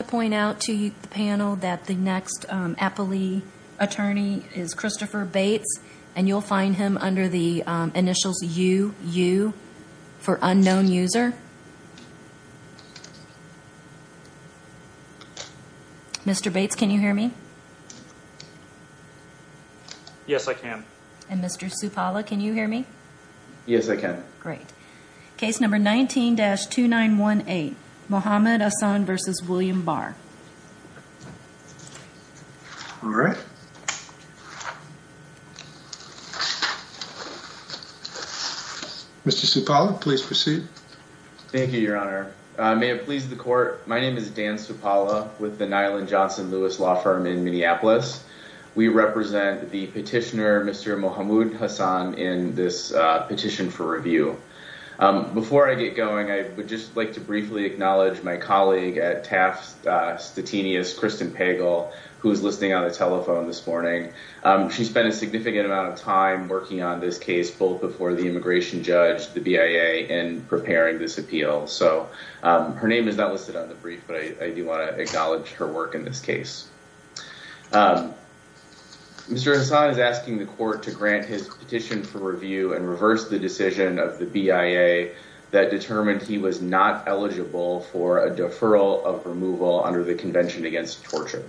I'd like to point out to the panel that the next Appley attorney is Christopher Bates and you'll find him under the initials UU for unknown user. Mr. Bates can you hear me? Yes I can. And Mr. Supala can you hear me? Yes I can. Great. Please read case number 19-2918 Mohamud Hassan v. William Barr. All right. Mr. Supala please proceed. Thank you your honor. May it please the court my name is Dan Supala with the Nyland Johnson Lewis Law Firm in Minneapolis. We represent the petitioner Mr. Mohamud Hassan in this petition for review. Before I get going I would just like to briefly acknowledge my colleague at Taft Stettinius Kristen Pagel who is listening on the telephone this morning. She spent a significant amount of time working on this case both before the immigration judge the BIA and preparing this appeal. So her name is not listed on the brief but I do want to acknowledge her work in this case. Mr. Hassan is asking the court to grant his petition for review and reverse the decision of the BIA that determined he was not eligible for a deferral of removal under the Convention Against Torture.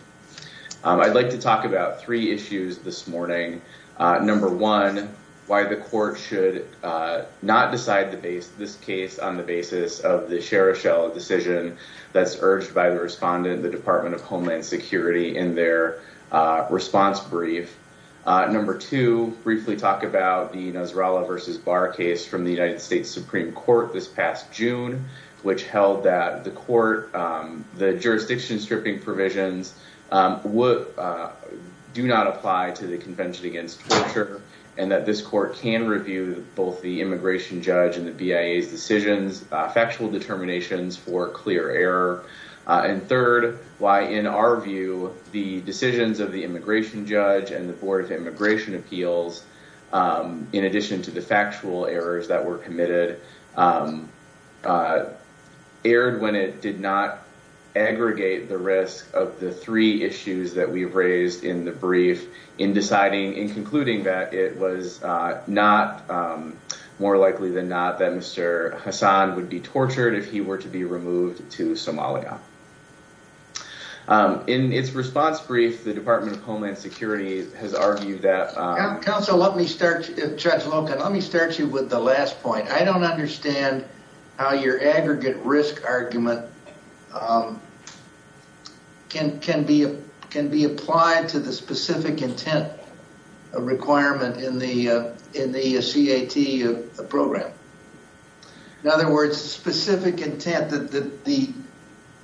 I'd like to talk about three issues this morning. Number one why the court should not decide the base this case on the basis of the Cherishell decision that's urged by the respondent the Department of Homeland Security in their response brief. Number two briefly talk about the Nasrallah versus Barr case from the United States Supreme Court this past June which held that the court the jurisdiction stripping provisions would do not apply to the Convention Against Torture and that this court can review both the immigration judge and the BIA's decisions factual determinations for clear error. And third why in our view the decisions of the immigration judge and the Board of Immigration Appeals in addition to the factual errors that were committed erred when it did not aggregate the risk of the three issues that we've raised in the brief in deciding and concluding that it was not more likely than not that Mr. Hassan would be tortured if he were to be removed to Somalia. In its response brief the Department of Homeland Security has argued that counsel let me start judge Logan let me start you with the last point I don't understand how your aggregate risk argument can be can be applied to the specific intent requirement in the in the C.A.T. program in other words specific intent that the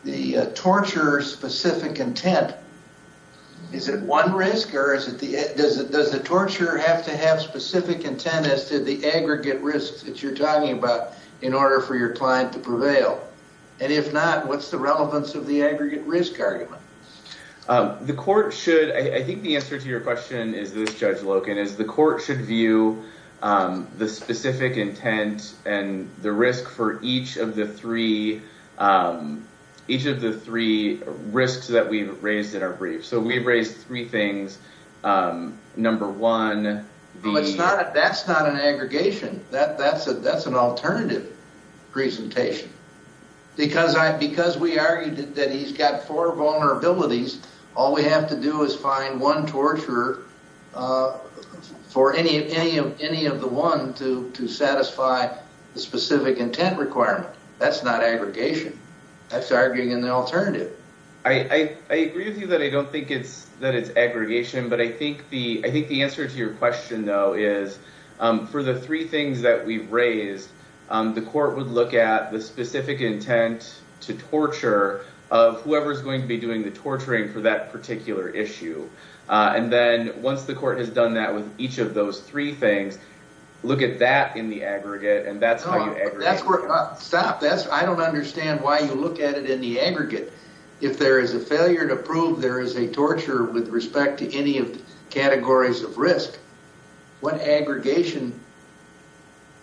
the torture specific intent is it one risk or is it the does it does the torture have to have specific intent as to the aggregate risks that you're talking about in order for your client to prevail and if not what's the relevance of the aggregate risk argument. The court should I think the answer to your question is this judge Logan is the court should view the specific intent and the risk for each of the three each of the three risks that we've raised in our brief so we've raised three things number one it's not that's not an aggregation that that's a that's an alternative presentation because I because we argued that he's got four vulnerabilities all we have to do is find one torture for any of any of any of the one to to satisfy the specific intent requirement that's not aggregation that's arguing in the alternative I agree with you that I don't think it's that it's aggregation but I think the I think the answer to your question though is for the three things that we've raised the court would look at the specific intent to torture of whoever's going to be doing the torturing for that particular issue and then once the court has done that with each of those three things look at that in the aggregate and that's how you stop that's I don't understand why you look at it in the aggregate if there is a failure to prove there is a torture with respect to any of the categories of risk what aggregation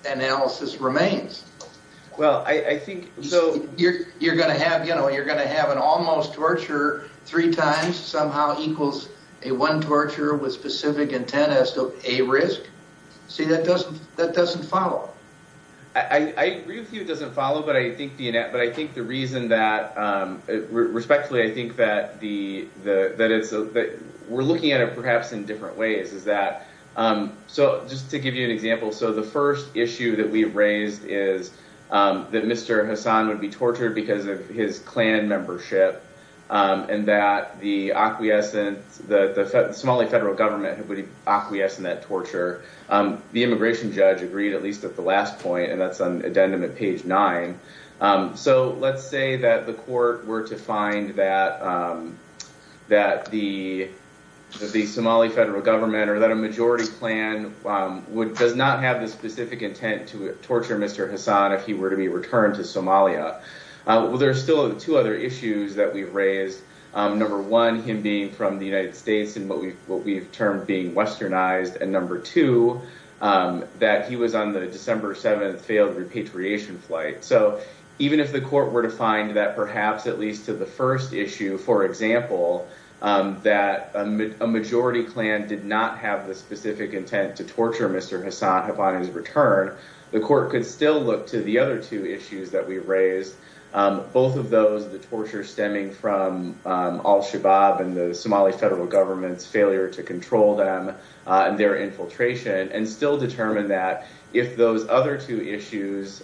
analysis remains well I think so you're you're gonna have you know you're gonna have an almost torture three times somehow equals a one torture with specific intent as to a risk see that doesn't that doesn't follow I agree with you it doesn't follow but I think DNA but I think the reason that respectfully I think that the that it's a bit we're looking at it perhaps in different ways is that so just to give you an example so the first issue that we raised is that mr. Hassan would be tortured because of his clan membership and that the acquiescence that the Somali federal government would acquiesce in that torture the immigration judge agreed at least at the last point and that's the court were to find that that the the Somali federal government or that a majority plan would does not have the specific intent to torture mr. Hassan if he were to be returned to Somalia well there's still two other issues that we've raised number one him being from the United States and what we've what we've termed being westernized and number two that he was on the December 7th repatriation flight so even if the court were to find that perhaps at least to the first issue for example that a majority clan did not have the specific intent to torture mr. Hassan upon his return the court could still look to the other two issues that we've raised both of those the torture stemming from al-shabaab and the Somali federal government's failure to control them and their infiltration and still determine that if those other two issues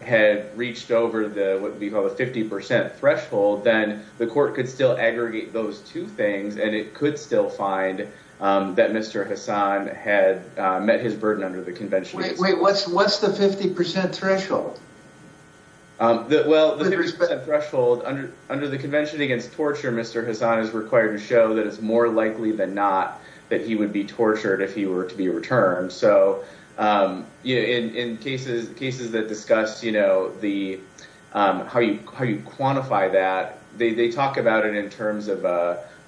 had reached over the what we call a 50% threshold then the court could still aggregate those two things and it could still find that mr. Hassan had met his burden under the convention wait wait what's what's the 50% threshold that well there's a threshold under under the convention against torture mr. Hassan is required to show that it's more likely than not that he would be tortured if he were to be returned so in cases cases that discussed you know the how you quantify that they talk about it in terms of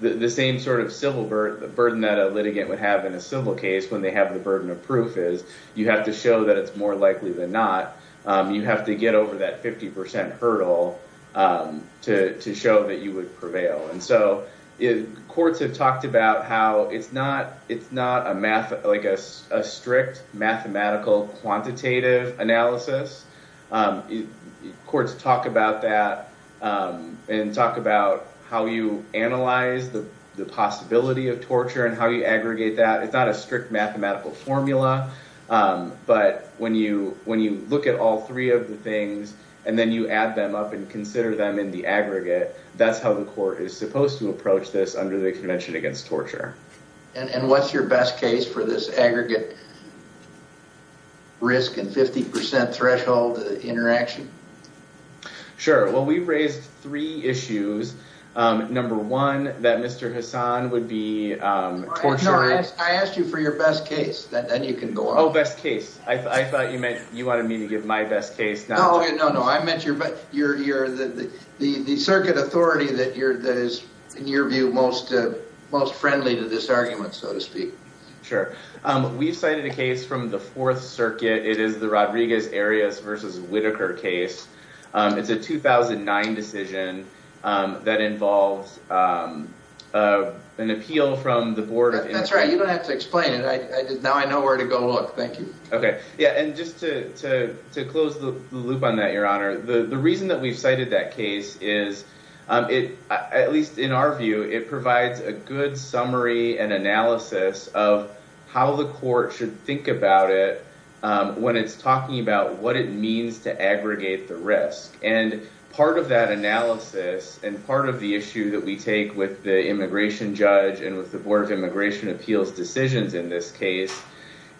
the same sort of civil burden that a litigant would have in a civil case when they have the burden of proof is you have to show that it's more likely than not you have to get over that 50% hurdle to show that you would prevail and so it courts have talked about how it's not it's not a math like a strict mathematical quantitative analysis courts talk about that and talk about how you analyze the possibility of torture and how you aggregate that it's not a strict mathematical formula but when you when you look at all three of the things and then you add them up and consider them in the aggregate that's how the court is supposed to approach this under the convention against torture and what's your best case for this aggregate risk and 50% threshold interaction sure well we raised three issues number one that mr. Hassan would be tortured I asked you for your best case that then you can go all best case I thought you meant you wanted me to give my best case no no no I meant your but you're you're the the the circuit authority that you're that is in your view most most friendly to this argument so to speak sure we've cited a case from the Fourth Circuit it is the Rodriguez areas versus Whitaker case it's a 2009 decision that involves an appeal from the board that's right you don't have to explain it I did now I know where to go look thank you okay yeah and just to close the loop on that your honor the the reason that we've cited that case is it at least in our view it provides a good summary and analysis of how the court should think about it when it's talking about what it means to aggregate the risk and part of that take with the immigration judge and with the Board of Immigration Appeals decisions in this case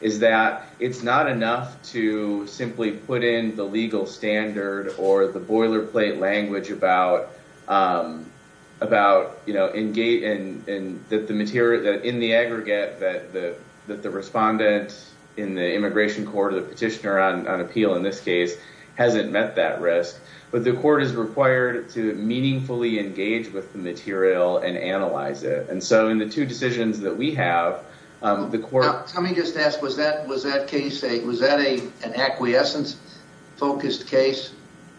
is that it's not enough to simply put in the legal standard or the boilerplate language about about you know in gate and that the material that in the aggregate that the that the respondent in the immigration court of the petitioner on appeal in this case hasn't met that risk but the court is required to meaningfully engage with the material and analyze it and so in the two decisions that we have the court let me just ask was that was that case a was that a an acquiescence focused case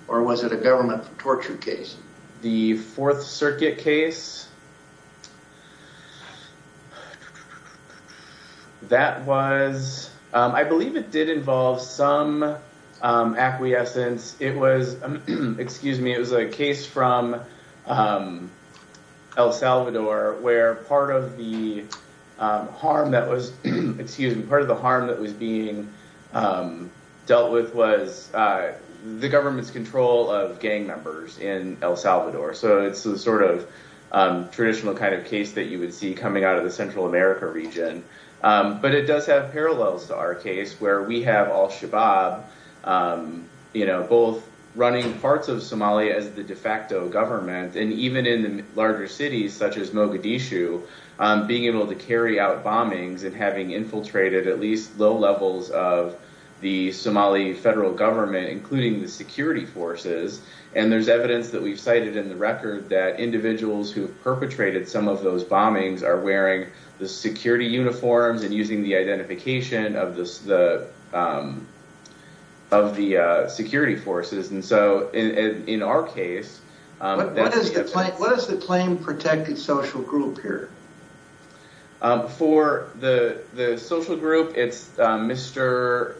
or was it a government torture case the Fourth Circuit case that was I believe it did involve some acquiescence it was excuse me it was a case from El Salvador where part of the harm that was excuse me part of the harm that was being dealt with was the government's control of gang members in El Salvador so it's the sort of traditional kind of case that you would see coming out of the Central America region but it does have parallels to our case where we have Al-Shabaab you know both running parts of Somalia as the de facto government and even in the larger cities such as Mogadishu being able to carry out bombings and having infiltrated at least low levels of the Somali federal government including the security forces and there's evidence that we've cited in the record that individuals who perpetrated some of those bombings are wearing the security uniforms and using the identification of this the of the security forces and so in our case what is the claim protected social group here for the the social group it's mr.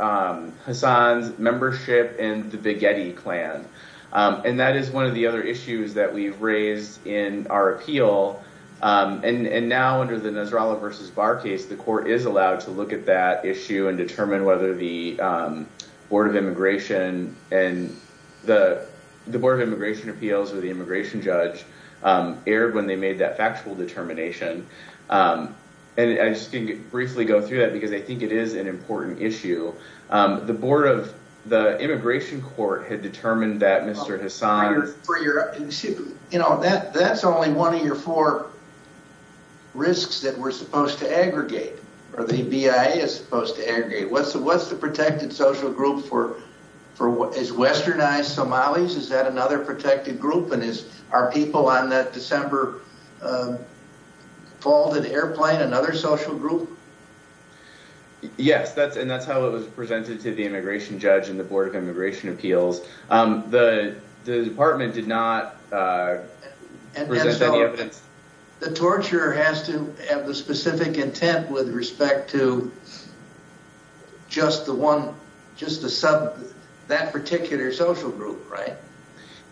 Hassan's and the big Eddie clan and that is one of the other issues that we've raised in our appeal and and now under the Nasrallah versus bar case the court is allowed to look at that issue and determine whether the Board of Immigration and the the Board of Immigration Appeals or the immigration judge aired when they made that factual determination and I just didn't briefly go through that because they think it is an important issue the Board of the Immigration Court had determined that mr. Hassan's for your you know that that's only one of your four risks that we're supposed to aggregate or the BIA is supposed to aggregate what's the what's the protected social group for for what is westernized Somalis is that another protected group and is our people on that December fall airplane another social group yes that's and that's how it was presented to the immigration judge and the Board of Immigration Appeals the department did not the torture has to have the specific intent with respect to just the one just the sub that particular social group right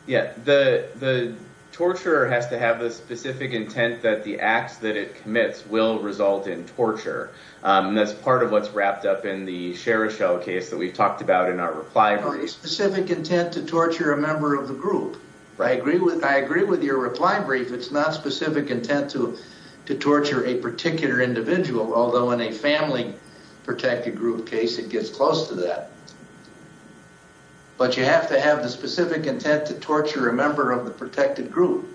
yeah the torturer has to have a specific intent that the acts that it commits will result in torture that's part of what's wrapped up in the share a shell case that we've talked about in our reply very specific intent to torture a member of the group I agree with I agree with your reply brief it's not specific intent to to torture a particular individual although in a family protected group case it gets close to that but you have to have the specific intent to torture a member of the protected group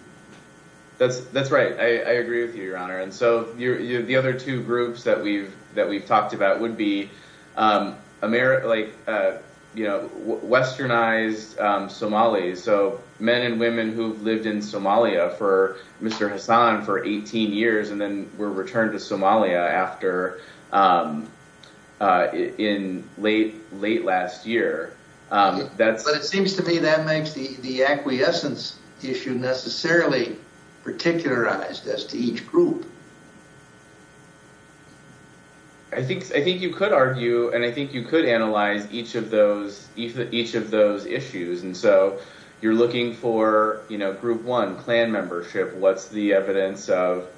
that's that's right I agree with you your honor and so you're the other two groups that we've that we've talked about would be America like you know westernized Somali so men and women who've lived in Somalia for mr. Hassan for 18 years and then were returned to in late late last year that's but it seems to me that makes the the acquiescence issue necessarily particularized as to each group I think I think you could argue and I think you could analyze each of those even each of those issues and so you're looking for you know group one clan membership what's the evidence of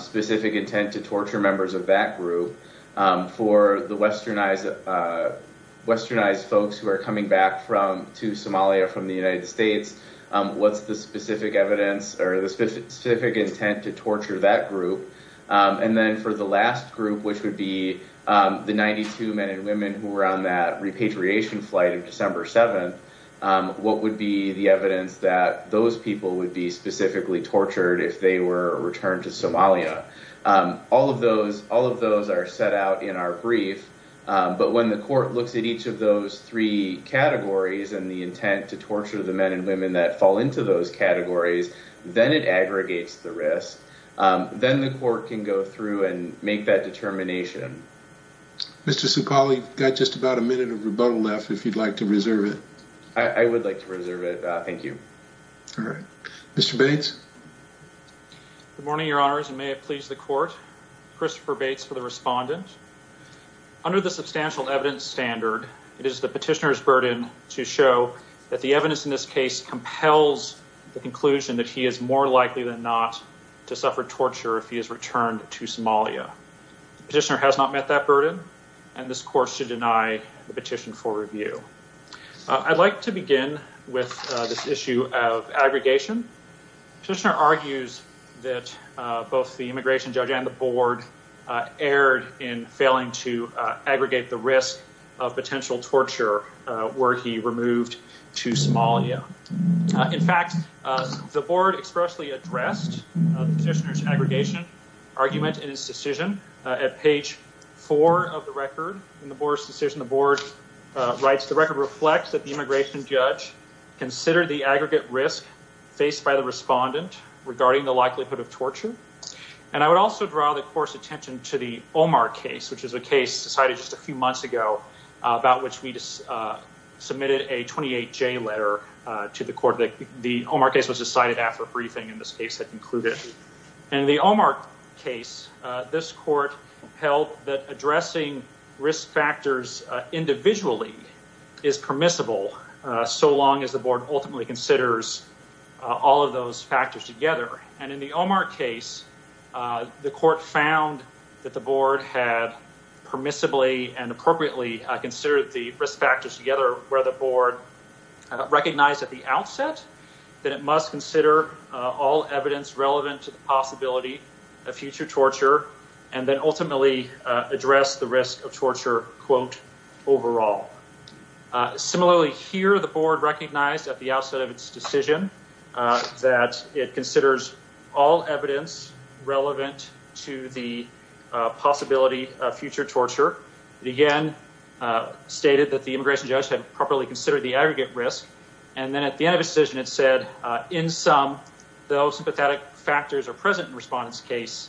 specific intent to torture members of that group for the westernized westernized folks who are coming back from to Somalia from the United States what's the specific evidence or the specific intent to torture that group and then for the last group which would be the 92 men and women who were on that repatriation flight of December 7th what would be the evidence that those people would be specifically tortured if they were returned to Somalia all of those all of those are set out in our brief but when the court looks at each of those three categories and the intent to torture the men and women that fall into those categories then it aggregates the risk then the court can go through and make that determination. Mr. Sukali got just about a minute of rebuttal left if you'd like to reserve it. I would like to reserve it thank you. Mr. Bates. Good morning your honors and may it please the court. Christopher Bates for the respondent. Under the substantial evidence standard it is the petitioner's burden to show that the evidence in this case compels the conclusion that he is more likely than not to suffer torture if he is returned to Somalia. Petitioner has not met that burden and this to deny the petition for review. I'd like to begin with this issue of aggregation. Petitioner argues that both the immigration judge and the board erred in failing to aggregate the risk of potential torture were he removed to Somalia. In fact the board expressly addressed the petitioner's argument in his decision. At page four of the record in the board's decision the board writes the record reflects that the immigration judge considered the aggregate risk faced by the respondent regarding the likelihood of torture. And I would also draw the court's attention to the Omar case which is a case decided just a few months ago about which we just submitted a 28j letter to the court that the Omar case was decided after a briefing in this case had concluded. In the Omar case this court held that addressing risk factors individually is permissible so long as the board ultimately considers all of those factors together. And in the Omar case the court found that the board had permissibly and appropriately considered the risk factors together where the board recognized at the outset that it must consider all evidence relevant to the possibility of future torture and then ultimately address the risk of torture quote overall. Similarly here the board recognized at the outset of its decision that it considers all evidence relevant to the possibility of future torture. It again stated that the immigration judge had properly considered the aggregate risk and then at the end of the decision it said in sum though sympathetic factors are present in respondents case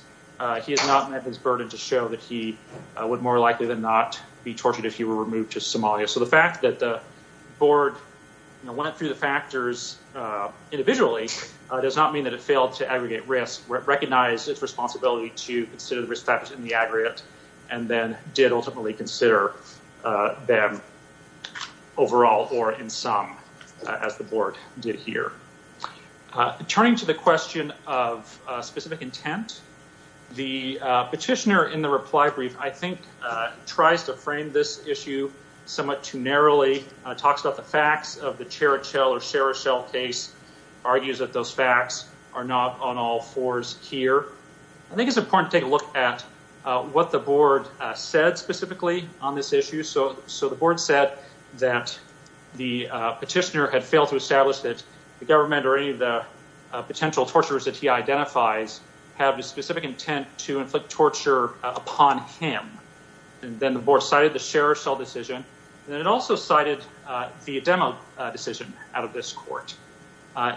he has not met his burden to show that he would more likely than not be tortured if he were removed to Somalia. So the fact that the board went through the factors individually does not mean that it failed to aggregate risk recognize its responsibility to consider the risk factors in the aggregate and then did ultimately consider them overall or in sum as the board did here. Turning to the question of specific intent the petitioner in the reply brief I think tries to frame this issue somewhat too narrowly talks about the facts of the Cherichel or Cherichel case argues that those facts are not on all fours here. I think it's important to take a look at what the board said specifically on this issue so so the board said that the petitioner had failed to establish that the government or any of the potential torturers that he identifies have a specific intent to inflict torture upon him and then the board cited the Cherichel decision then it also cited the Ademo decision out of this court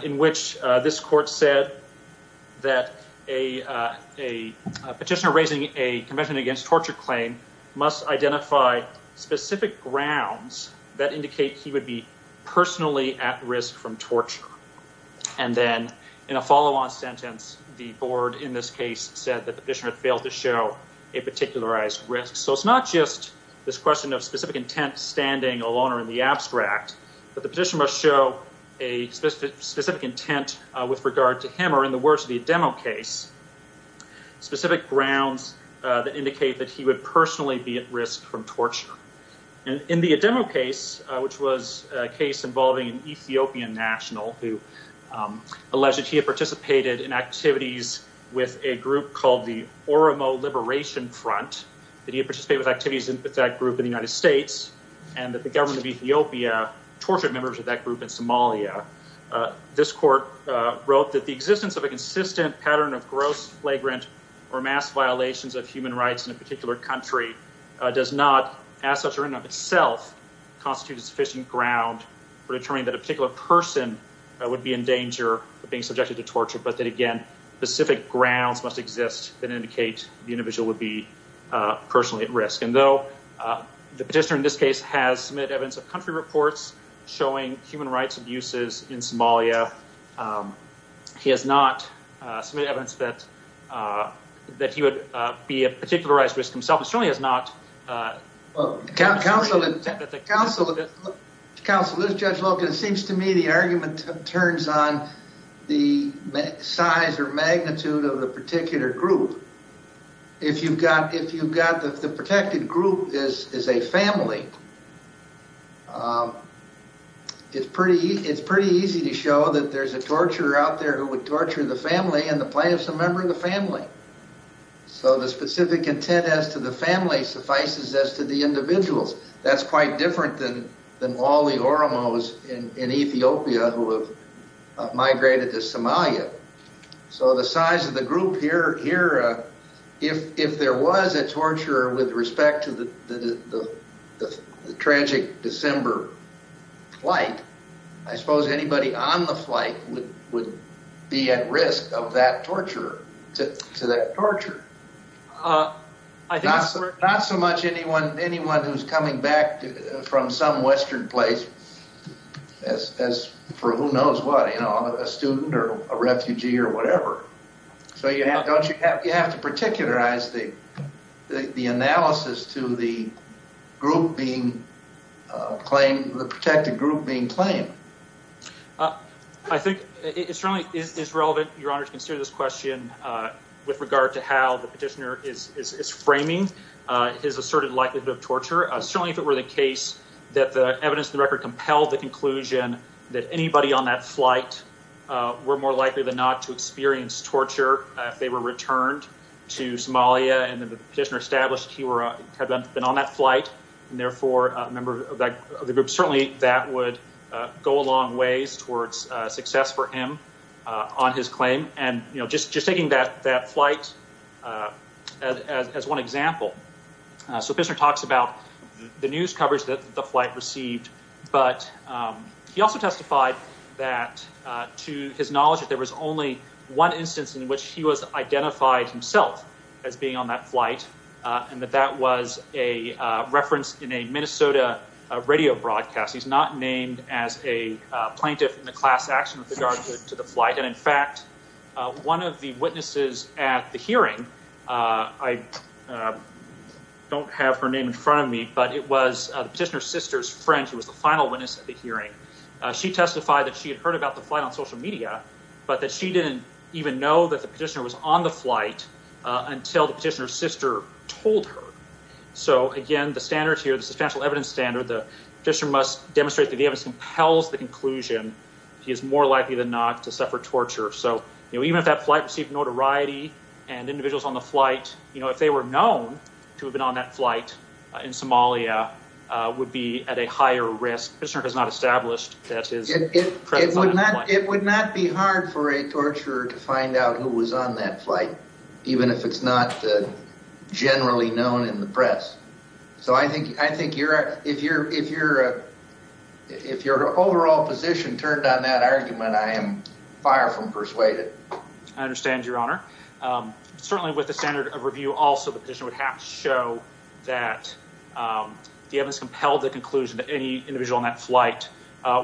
in which this court said that a petitioner raising a convention against torture claim must identify specific grounds that indicate he would be personally at risk from torture and then in a follow-on sentence the board in this case said that the petitioner failed to show a particularized risk. So it's not just this question of specific intent standing alone or the abstract but the petition must show a specific intent with regard to him or in the words of the Ademo case specific grounds that indicate that he would personally be at risk from torture and in the Ademo case which was a case involving an Ethiopian national who alleged he had participated in activities with a group called the Oromo Liberation Front that he participated with activities with that group in the United States and that the government of Ethiopia tortured members of that group in Somalia. This court wrote that the existence of a consistent pattern of gross flagrant or mass violations of human rights in a particular country does not as such or in of itself constitute a sufficient ground for determining that a particular person would be in danger of being subjected to torture but that again specific grounds must exist that though the petitioner in this case has submitted evidence of country reports showing human rights abuses in Somalia he has not submitted evidence that that he would be a particularized risk himself. It certainly has not counsel counsel counsel this judge Logan it seems to me the argument turns on the size or magnitude of the particular group if you've got if you've got the protected group is is a family it's pretty it's pretty easy to show that there's a torturer out there who would torture the family and the plaintiff's a member of the family so the specific intent as to the family suffices as to the individuals that's quite different than than all the Oromos in in Ethiopia who have migrated to Somalia so the size of the group here here if if there was a torturer with respect to the the the tragic December flight I suppose anybody on the flight would would be at risk of that torture to to that torture uh I think not so not so much anyone anyone who's coming back from some western place as as for who knows what you whatever so you have don't you have you have to particularize the the analysis to the group being claimed the protected group being claimed I think it certainly is relevant your honor to consider this question uh with regard to how the petitioner is is framing uh his asserted likelihood of torture certainly if it were the case that the evidence the record compelled the conclusion that anybody on that flight were more likely than not to experience torture if they were returned to Somalia and the petitioner established he were had been on that flight and therefore a member of the group certainly that would go a long ways towards success for him on his claim and you know just just taking that that flight uh as as one example so this one talks about the news also testified that to his knowledge that there was only one instance in which he was identified himself as being on that flight and that that was a reference in a Minnesota radio broadcast he's not named as a plaintiff in the class action with regard to the flight and in fact one of the witnesses at the hearing I don't have her name in front of me but it was the petitioner sister's who was the final witness at the hearing she testified that she had heard about the flight on social media but that she didn't even know that the petitioner was on the flight until the petitioner's sister told her so again the standards here the substantial evidence standard the petitioner must demonstrate that the evidence compels the conclusion he is more likely than not to suffer torture so you know even if that flight received notoriety and individuals on the flight you know if they were known to have been on that flight in Somalia uh would be at a higher risk Fishner has not established that it would not it would not be hard for a torturer to find out who was on that flight even if it's not generally known in the press so I think I think you're if you're if you're if your overall position turned on that argument I am far from persuaded I understand your honor certainly with the standard of review also the petition would have to show that the evidence compelled the conclusion that any individual on that flight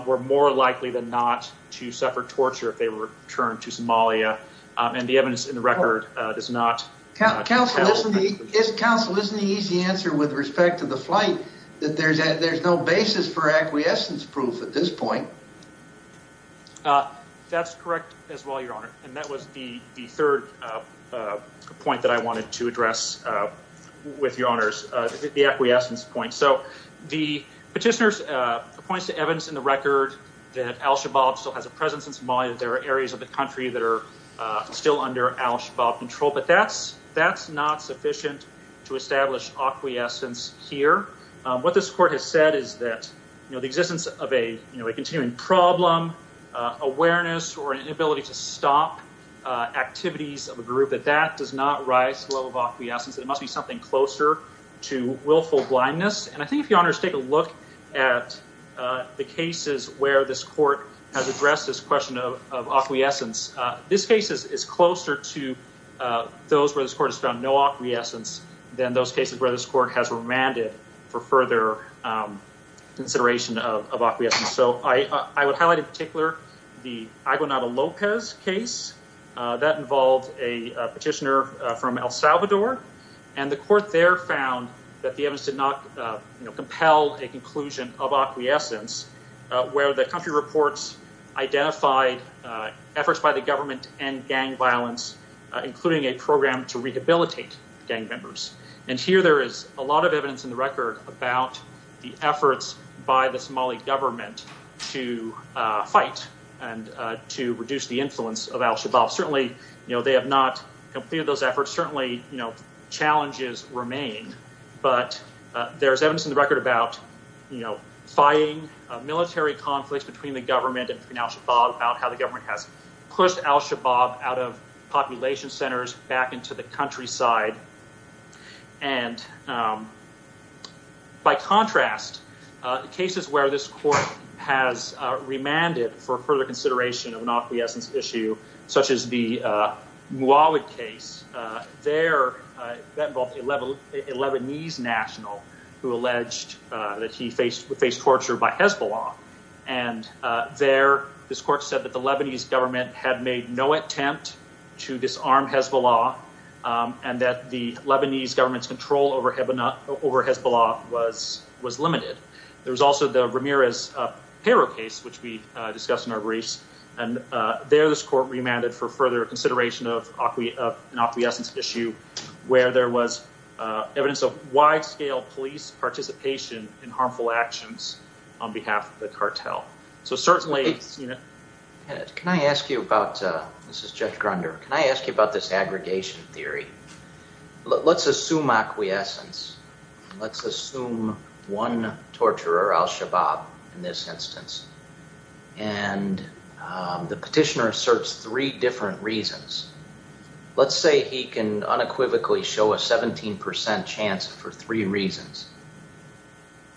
were more likely than not to suffer torture if they were returned to Somalia and the evidence in the record does not counsel isn't the easy answer with respect to the flight that there's a there's no basis for acquiescence proof at this point uh that's correct as well your honor and that was the the third uh uh point that I wanted to address uh with your honors uh the acquiescence point so the petitioners uh points to evidence in the record that al-shabaab still has a presence in Somalia there are areas of the country that are uh still under al-shabaab control but that's that's not sufficient to establish acquiescence here what this court has said is that you know the existence of a you know a continuing problem awareness or an inability to stop uh activities of a group that that does not rise to the level of acquiescence there must be something closer to willful blindness and I think if your honors take a look at uh the cases where this court has addressed this question of acquiescence uh this case is closer to uh those where this court has found no acquiescence than those cases where this court has remanded for further consideration of acquiescence so I I would highlight in particular the Aguinaldo Lopez case that involved a petitioner from El Salvador and the court there found that the evidence did not you know compel a conclusion of acquiescence where the country reports identified efforts by the government and gang violence including a program to rehabilitate gang members and here there is a lot of evidence in the record about the efforts by the Somali government to uh fight and uh to reduce the influence of al-shabaab certainly you know they have not completed those efforts certainly you know challenges remain but there's evidence in the record about you know fighting a military conflict between the government and al-shabaab about how the government has pushed al-shabaab out of population centers back into the countryside and um by contrast uh cases where this court has uh remanded for further consideration of an acquiescence issue such as the uh Muawit case uh there that involved a Lebanese national who alleged uh that he faced face torture by Hezbollah and uh there this court said that the Lebanese government had made no attempt to disarm Hezbollah um and that the Lebanese government's control over Hebanah over Hezbollah was was limited there was also the Ramirez uh payroll case which we uh discussed in our briefs and uh there this court remanded for further consideration of an acquiescence issue where there was uh evidence of wide-scale police participation in harmful actions on behalf of the cartel so certainly you know yeah can I ask you about uh this is Judge Grunder can I ask you about this aggregation theory let's assume acquiescence let's assume one torturer al-shabaab in this instance and um the petitioner asserts three different reasons let's say he can unequivocally show a 17 percent chance for three reasons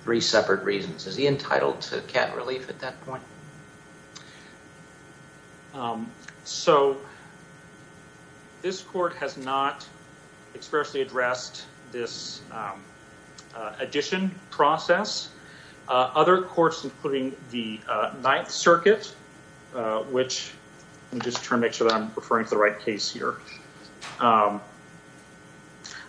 three separate reasons is he entitled to cat relief at that point um so this court has not expressly addressed this addition process uh other courts including the uh ninth circuit uh which let me just try to make sure that I'm referring to the right case here um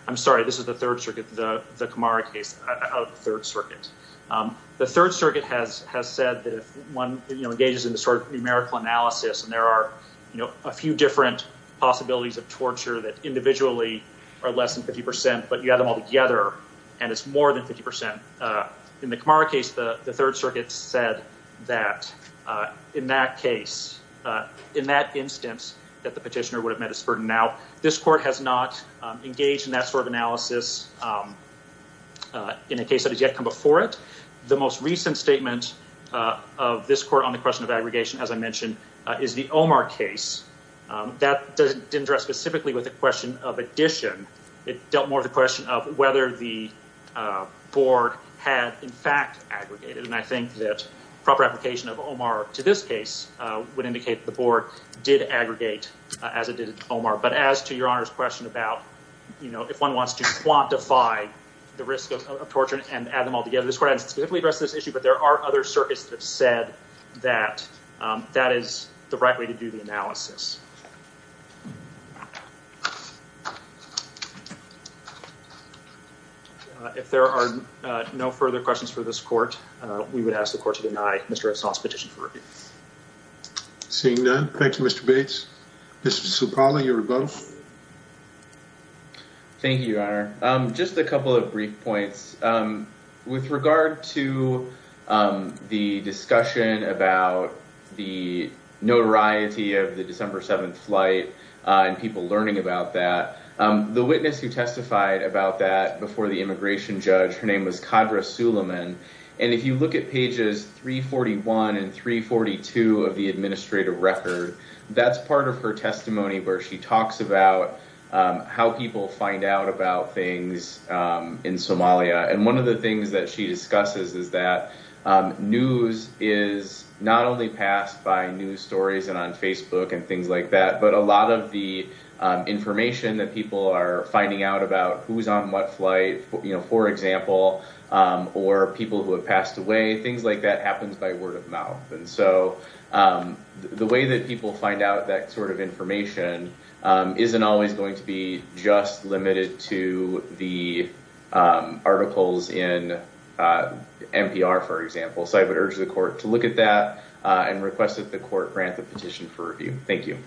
I'm sorry this is the third circuit the the Kamara case out of the third circuit um the third circuit has has said that if one you know engages in this sort of numerical analysis and there are you know a few different possibilities of torture that individually are less than 50 percent but you and it's more than 50 percent uh in the Kamara case the the third circuit said that uh in that case uh in that instance that the petitioner would have met his burden now this court has not engaged in that sort of analysis um uh in a case that has yet come before it the most recent statement uh of this court on the question of aggregation as I mentioned is the Omar case that didn't address specifically with the question of addition it dealt more of the question of whether the uh board had in fact aggregated and I think that proper application of Omar to this case uh would indicate the board did aggregate as it did Omar but as to your honor's question about you know if one wants to quantify the risk of torture and add them all together this would specifically address this issue but there are other circuits that said that um that is the right way to do the analysis if there are no further questions for this court uh we would ask the court to deny Mr. Esau's petition for review. Seeing none, thank you Mr. Bates. Mr. Supala, you were both. Thank you your honor um just a couple of brief points um with regard to um the discussion about the notoriety of the December 7th flight uh and people learning about that um the witness who testified about that before the immigration judge her name was Kadra Suleiman and if you look at pages 341 and 342 of the administrative record that's part of her testimony where she talks about um how people find out about things um in Somalia and one of the news is not only passed by news stories and on Facebook and things like that but a lot of the information that people are finding out about who's on what flight you know for example um or people who have passed away things like that happens by word of mouth and so um the way that people find out that sort of information um isn't always going to be just limited to the um articles in uh NPR for example so I would urge the court to look at that uh and request that the court grant the petition for review. Thank you.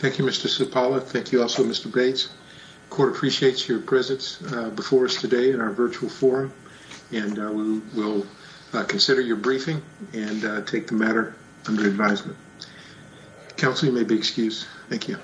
Thank you Mr. Supala. Thank you also Mr. Bates. Court appreciates your presence uh before us today in our virtual forum and we will consider your briefing and take the matter under advisement. Counsel you may be excused. Thank you.